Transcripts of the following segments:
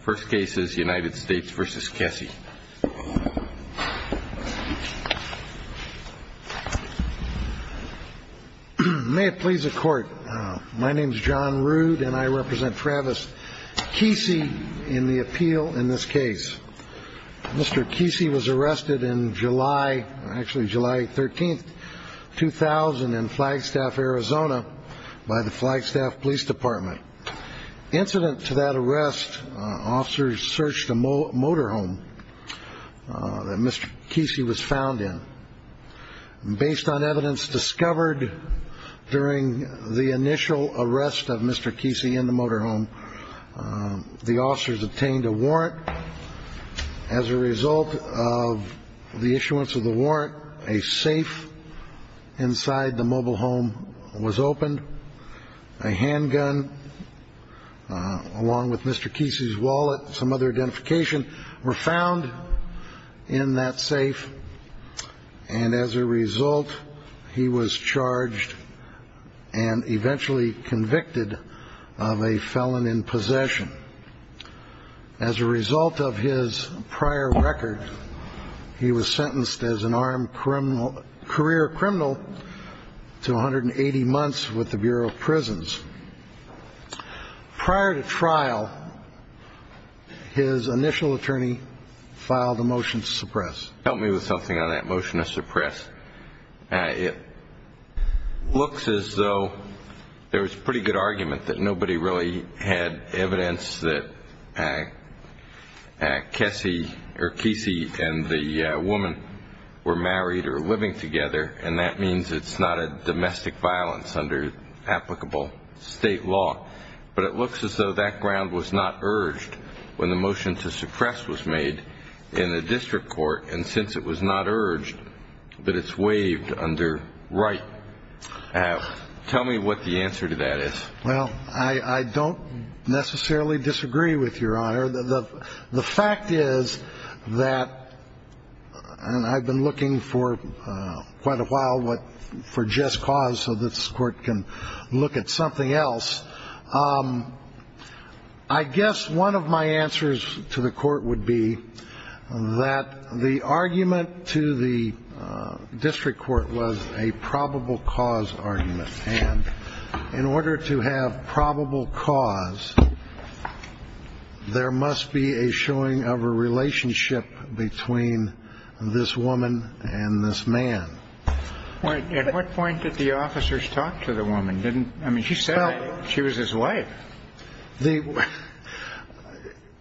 First case is United States v. Kesee. May it please the Court, my name is John Rood and I represent Travis Keesee in the appeal in this case. Mr. Keesee was arrested in July, actually July 13, 2000, in Flagstaff, Arizona, by the Flagstaff Police Department. Incident to that arrest, officers searched a motorhome that Mr. Kesee was found in. Based on evidence discovered during the initial arrest of Mr. Kesee in the motorhome, the officers obtained a warrant. As a result of the issuance of the warrant, a safe inside the mobile home was opened. A handgun, along with Mr. Kesee's wallet and some other identification, were found in that safe. And as a result, he was charged and eventually convicted of a felon in possession. As a result of his prior record, he was sentenced as an armed career criminal to 180 months with the Bureau of Prisons. Prior to trial, his initial attorney filed a motion to suppress. Help me with something on that motion to suppress. It looks as though there was pretty good argument that nobody really had evidence that Kesee and the woman were married or living together, and that means it's not a domestic violence under applicable state law. But it looks as though that ground was not urged when the motion to suppress was made in the district court, and since it was not urged, that it's waived under right. Tell me what the answer to that is. Well, I don't necessarily disagree with And I've been looking for quite a while for just cause so that this court can look at something else. I guess one of my answers to the court would be that the argument to the district court was a probable cause argument. And in order to have probable cause, there must be a showing of a relationship between this woman and this man. At what point did the officers talk to the woman? I mean, she said she was his wife.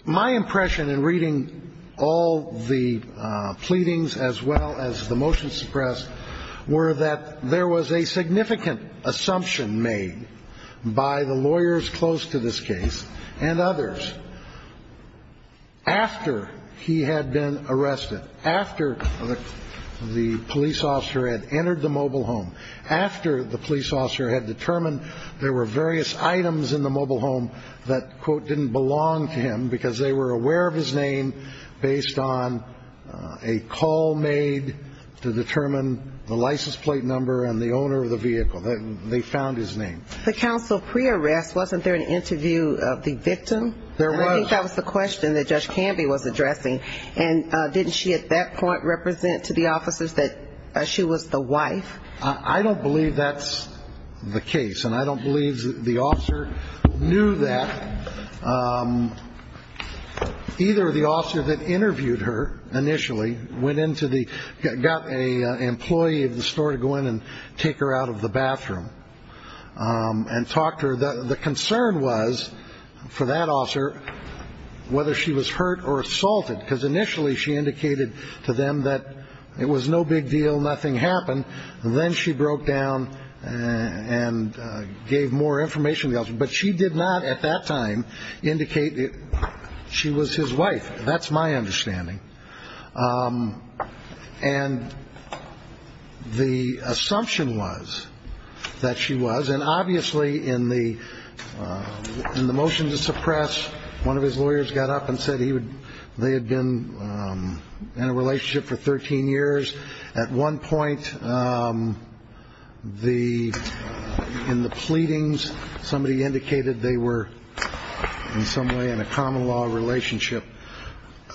My impression in reading all the pleadings as well as the motion to suppress were that there was a significant assumption made by the lawyers close to this case and others after he had been arrested, after the police officer had entered the mobile home, after the police officer had determined there were various items in the mobile home that, quote, didn't belong to him because they were aware of his name based on a call made to determine the license plate number and the owner of the vehicle. They found his name. The counsel pre-arrest, wasn't there an interview of the victim? There was. I think that was the question that Judge Canby was addressing. And didn't she at that point represent to the officers that she was the wife? I don't believe that's the case. And I don't believe the officer knew that. Either the officer that interviewed her initially went into the got a employee of the store to go in and take her out of the bathroom and talked to her. The concern was for that officer whether she was hurt or assaulted, because initially she indicated to them that it was no big deal. Nothing happened. Then she broke down and gave more information. But she did not at that time indicate that she was his wife. That's my understanding. And the assumption was that she was. And obviously in the motion to suppress, one of his lawyers got up and said they had been in a relationship for 13 years. At one point in the pleadings, somebody indicated they were in some way in a common law relationship.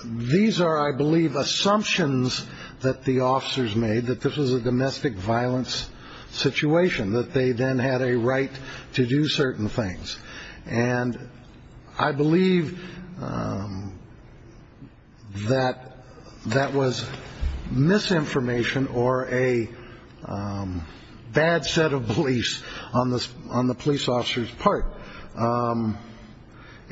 These are, I believe, assumptions that the officers made that this was a domestic violence situation, that they then had a right to do certain things. And I believe that that was misinformation or a bad set of beliefs on the police officer's part.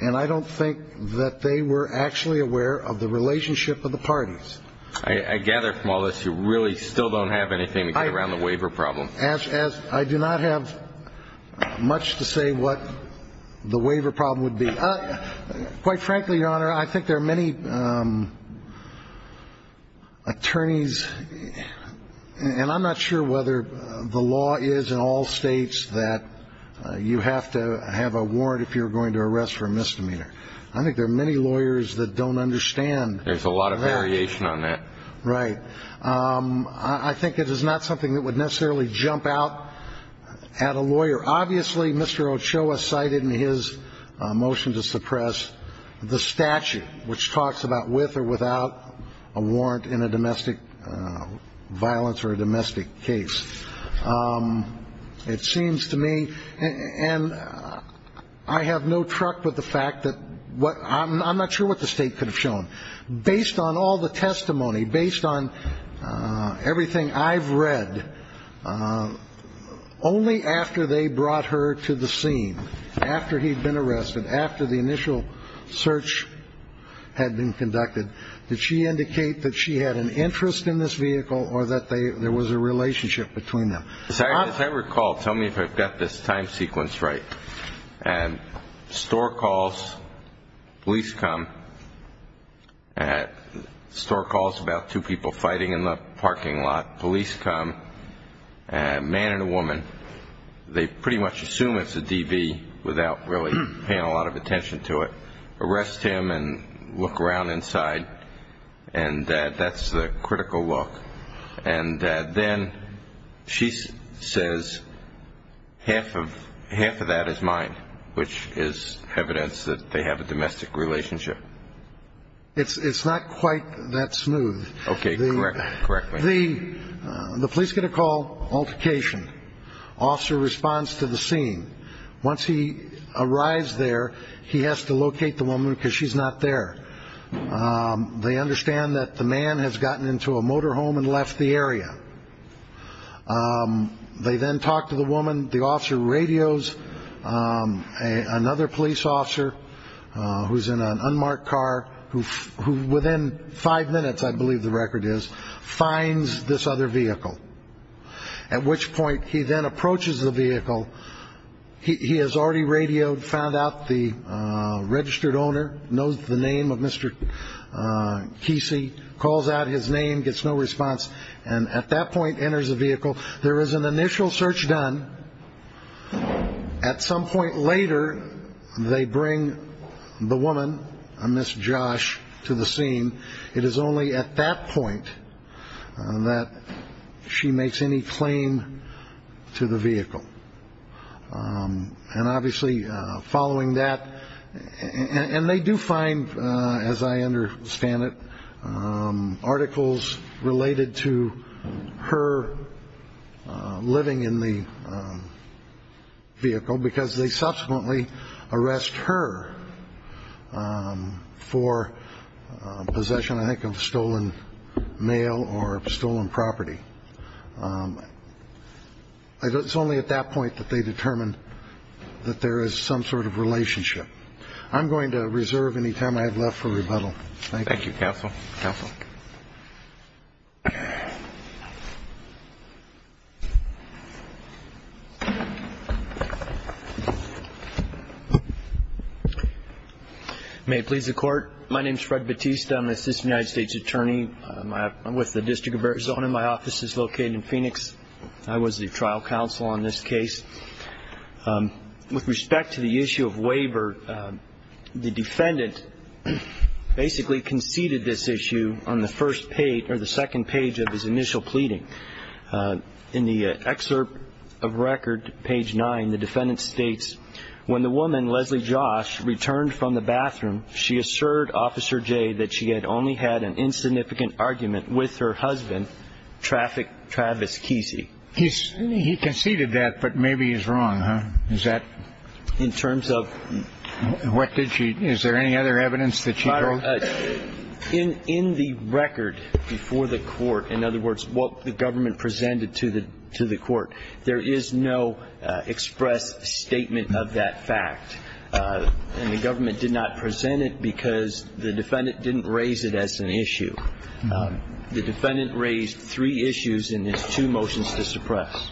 And I don't think that they were actually aware of the relationship of the parties. I gather from all this, you really still don't have anything to get around the waiver problem. As I do not have much to say what the waiver problem would be. Quite frankly, Your Honor, I think there are many attorneys and I'm not sure whether the law is in all states that you have to have a warrant if you're going to arrest for a misdemeanor. I think there are many lawyers that don't understand. There's a lot of variation on that. Right. I think it is not something that would necessarily jump out at a lawyer. Obviously, Mr. Ochoa cited in his motion to suppress the statute, which talks about with or without a warrant in a domestic violence or a domestic case. It seems to me, and I have no truck with the fact that I'm not sure what the state could have shown. Based on all the testimony, based on everything I've read, only after they brought her to the scene, after he'd been arrested, after the initial search had been conducted, did she indicate that she had an interest in this vehicle or that there was a relationship between them? As I recall, tell me if I've got this time sequence right, store calls, police come, store calls about two people fighting in the parking lot, police come, a man and a woman, they pretty much assume it's a DV without really paying a lot of attention to it, arrest him and look around inside, and that's the critical look. And then she says half of that is mine, which is evidence that they have a domestic relationship. It's not quite that smooth. Okay, correct me. The police get a call, altercation. Officer responds to the scene. Once he arrives there, he has to locate the woman because she's not there. They understand that the man has gotten into a motorhome and left the area. They then talk to the woman, the officer radios another police officer who's in an unmarked car, who within five minutes, I believe the record is, finds this other vehicle, at which point he then approaches the vehicle. He has already radioed, found out the registered owner, knows the name of Mr. Kesey, calls out his name, gets no response, and at that point enters the vehicle. There is an initial search done. At some point later, they bring the woman, a Miss Josh, to the scene. It is only at that point that she makes any claim to the vehicle. And obviously living in the vehicle because they subsequently arrest her for possession, I think, of stolen mail or stolen property. It's only at that point that they determine that there is some sort of relationship. I'm going to reserve any time I have left for rebuttal. Thank you. Thank you, Counsel. Counsel. May it please the Court. My name is Fred Batista. I'm an assistant United States Attorney. I'm with the District of Arizona. My office is located in Phoenix. I was the trial counsel on this case. With respect to the issue of waiver, the defendant basically conceded this issue on the first page or the second page of his initial pleading. In the excerpt of record, page 9, the defendant states, when the woman, Leslie Josh, returned from the bathroom, she asserted, Officer Jay, that she had only had an insignificant argument with her husband, Traffic Travis Kesey. He conceded that, but maybe he's wrong, huh? Is that... In terms of... What did she... Is there any other evidence that she drove? In the record before the Court, in other words, what the government presented to the Court, there is no express statement of that fact. And the government did not present it because the defendant didn't raise it as an issue. The defendant raised three issues in his two motions to suppress.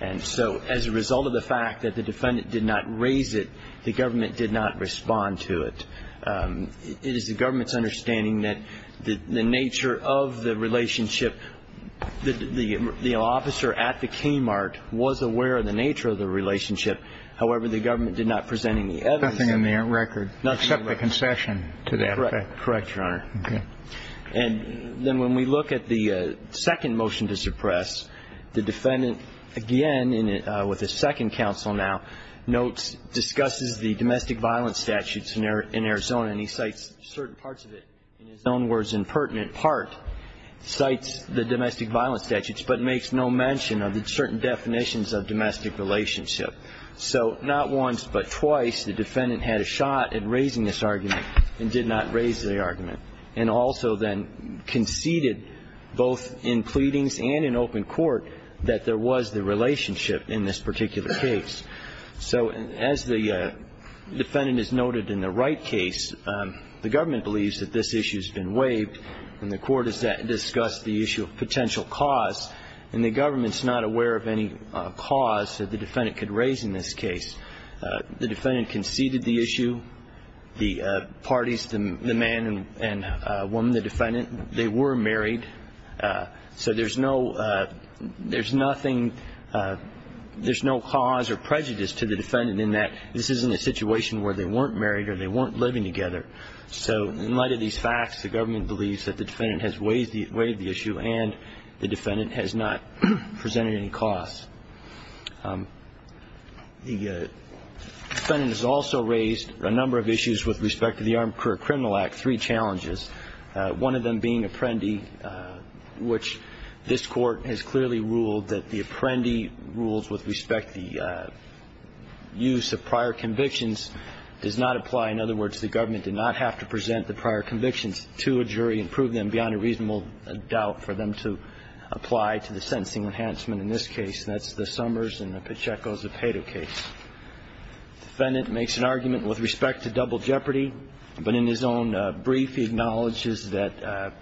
And so, as a result of the fact that the defendant did not raise it, the government did not respond to it. It is the government's understanding that the nature of the relationship... The officer at the Kmart was aware of the nature of the relationship. However, the government did not present any evidence... Nothing in the record except the concession to that fact. Correct. Correct, Your Honor. Okay. And then when we look at the second motion to suppress, the defendant, again, with his second counsel now, notes, discusses the domestic violence statutes in Arizona, and he cites certain parts of it, in his own words, in pertinent part, cites the domestic violence statutes, but makes no mention of certain definitions of domestic relationship. So not once, but twice, the defendant had a shot at raising this argument and did not raise the argument, and also then conceded both in pleadings and in open court that there was the relationship in this particular case. So as the defendant has noted in the right case, the government believes that this issue has been waived, and the Court has discussed the issue of potential cause, and the government's not aware of any cause that the defendant could raise in this case. The defendant conceded the issue. The parties, the man and woman, the defendant, they were married. So there's no... There's nothing... There's no cause or prejudice to the defendant in that this isn't a situation where they weren't married or they weren't living together. So in light of these facts, the government believes that the defendant has waived the issue, and the defendant has not presented any cause. The defendant has also raised a number of issues with respect to the Armed Career Criminal Act, three challenges, one of them being Apprendi, which this Court has clearly ruled that the Apprendi rules with respect to the use of prior convictions does not apply. In other words, the government did not have to present the prior convictions to a jury and prove them beyond a reasonable doubt for them to apply to the sentencing enhancement in this case, and that's the Summers and Pacheco-Zepeda case. The defendant makes an argument with respect to double jeopardy, but in his own brief, he acknowledges that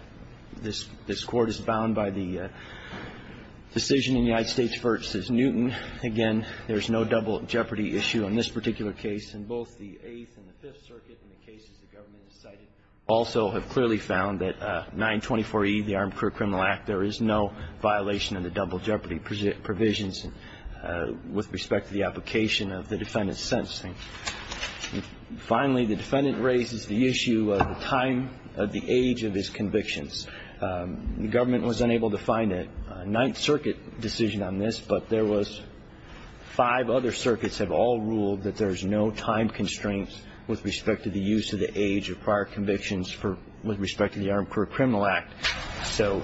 this Court is bound by the decision in the United States v. Newton. Again, there's no double jeopardy issue in this particular case, and both the Eighth and the Fifth Circuit and the cases the government has cited also have clearly found that 924E, the Armed Career Criminal Act, there is no violation of the double jeopardy provisions with respect to the application of the defendant's sentencing. Finally, the defendant raises the issue of the time of the age of his convictions. The government was unable to find a Ninth Circuit decision on this, but there was five other circuits have all ruled that there's no time constraints with respect to the use of the age of prior convictions with respect to the Armed Career Criminal Act. So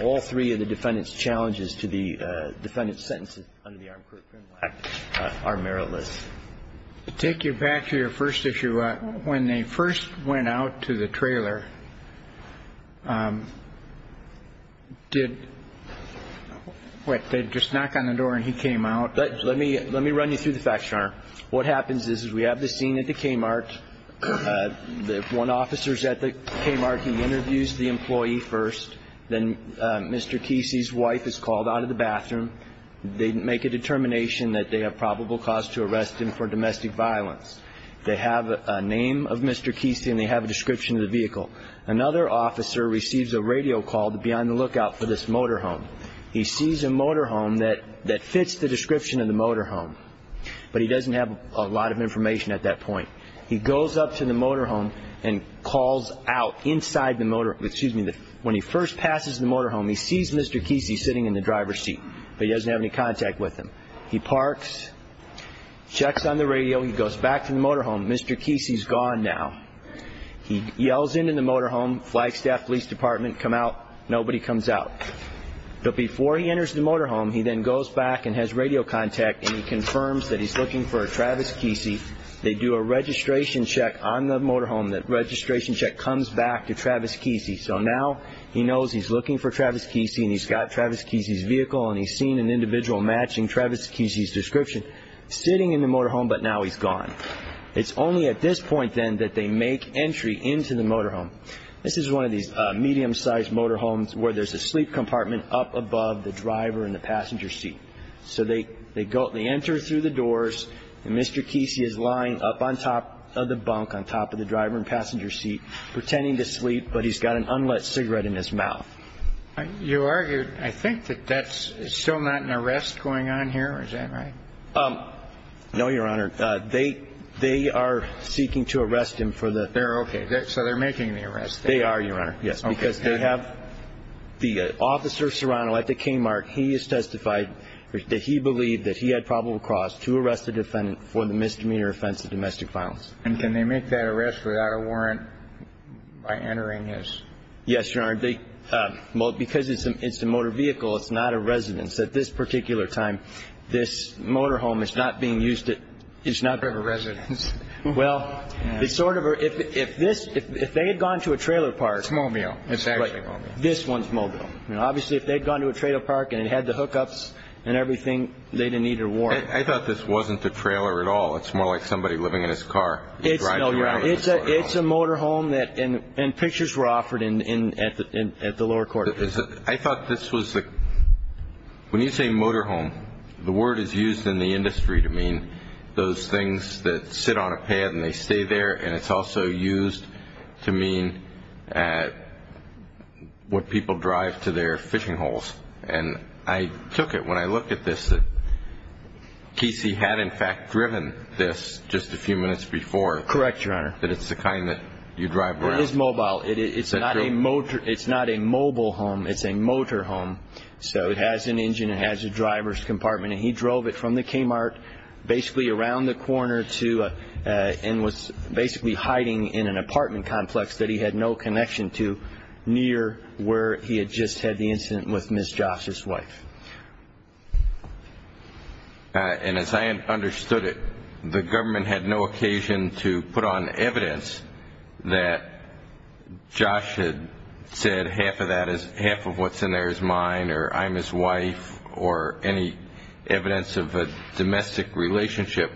all three of the defendant's challenges to the defendant's sentences under the Armed Career Criminal Act are meritless. Take you back to your first issue. When they first went out to the trailer, did, what, they just knock on the door and he came out? Let me, let me run you through the facts, Your Honor. What happens is we have the scene at the Kmart. One officer is at the Kmart. He interviews the employee first. Then Mr. Kesey's wife is called out of the bathroom. They make a determination that they have probable cause to arrest him for domestic violence. They have a name of Mr. Kesey and they have a description of the vehicle. Another officer receives a radio call to be on the lookout for this motorhome. He sees a motorhome that fits the description of the motorhome, but he doesn't have a lot of information at that point. He goes up to the motorhome and calls out inside the motor, excuse me, when he first passes the motorhome, he sees Mr. Kesey sitting in the driver's seat, but he doesn't have any contact with him. He parks, checks on the radio. He goes back to the motorhome. Mr. Kesey's gone now. He yells into the motorhome. Flagstaff Police Department come out. Nobody comes out. But before he enters the motorhome, he then goes back and has radio contact and he confirms that he's looking for Travis Kesey. They do a registration check on the motorhome. That registration check comes back to Travis Kesey. So now he knows he's looking for Travis Kesey and he's got Travis Kesey's vehicle and he's seen an individual matching Travis Kesey's description sitting in the motorhome, but now he's gone. It's only at this point then that they make entry into the motorhome. This is one of these medium-sized motorhomes where there's a sleep compartment up above the driver and the passenger seat. So they go, they enter through the doors and Mr. Kesey is lying up on top of the bunk, on top of the driver and passenger seat, pretending to sleep, but he's got an unlit cigarette in his mouth. You argued, I think, that that's still not an arrest going on here. Is that right? No, Your Honor. They are seeking to arrest him for the... They're okay. So they're making the arrest. They are, Your Honor, yes, because they have the officer Serrano at the K-mark. He has testified that he believed that he had probable cause to arrest a defendant for the misdemeanor offense of domestic violence. And can they make that arrest without a warrant by entering his... Yes, Your Honor. Because it's a motor vehicle, it's not a residence. At this particular time, this motorhome is not being used at... It's not a residence. Well, it's sort of... If they had gone to a trailer park... It's mobile. It's actually mobile. This one's mobile. Obviously, if they'd gone to a trailer park and it had the hookups and everything, they didn't need a warrant. I thought this wasn't the trailer at all. It's more like somebody living in his car. It's a motorhome and pictures were offered at the lower court. I thought this was the... When you say motorhome, the word is used in the industry to mean those things that sit on a pad and they stay there. And it's also used to mean what people drive to their fishing holes. And I took it when I looked at this that Kesey had, in fact, driven this just a few minutes before. Correct, Your Honor. That it's the kind that you drive around. It is mobile. It's not a mobile home. It's a motorhome. So it has an engine. It has a driver's compartment. And he drove it from the Kmart basically around the corner and was basically hiding in an apartment complex that he had no connection to near where he had just had the incident with Ms. Josh's wife. And as I understood it, the government had no occasion to put on evidence that Josh had said half of what's in there is mine or I'm his wife or any evidence of a domestic relationship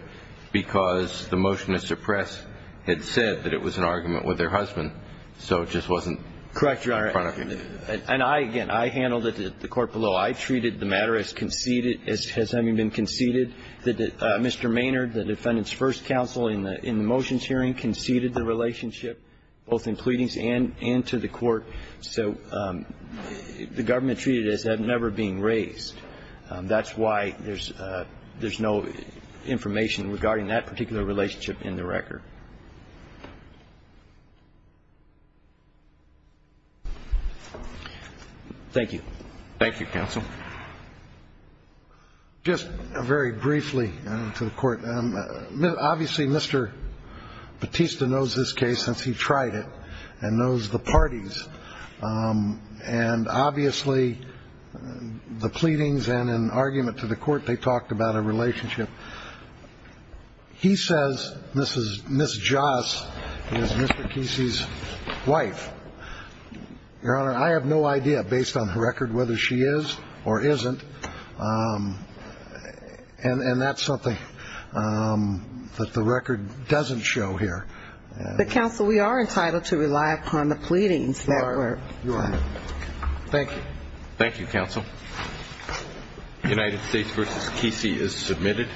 because the motion to suppress had said that it was an argument with their husband. So it just wasn't... Correct, Your Honor. ...in front of you. And I, again, I handled it at the court below. I treated the matter as having been conceded that Mr. Maynard, the defendant's first counsel in the motions hearing, conceded the relationship both in pleadings and to the court. So the government treated it as that never being raised. That's why there's no information regarding that particular relationship in the record. Thank you. Thank you, counsel. Just very briefly to the court. Obviously, Mr. Bautista knows this case since he tried it and knows the parties. And obviously, the pleadings and an argument to the court, they talked about a relationship. He says Ms. Josh is Mr. Kesey's wife. Your Honor, I have no idea, based on the record, whether she is or isn't. And that's something that the record doesn't show here. But, counsel, we are entitled to rely upon the pleadings network. Your Honor. Thank you. Thank you, counsel. United States v. Kesey is submitted.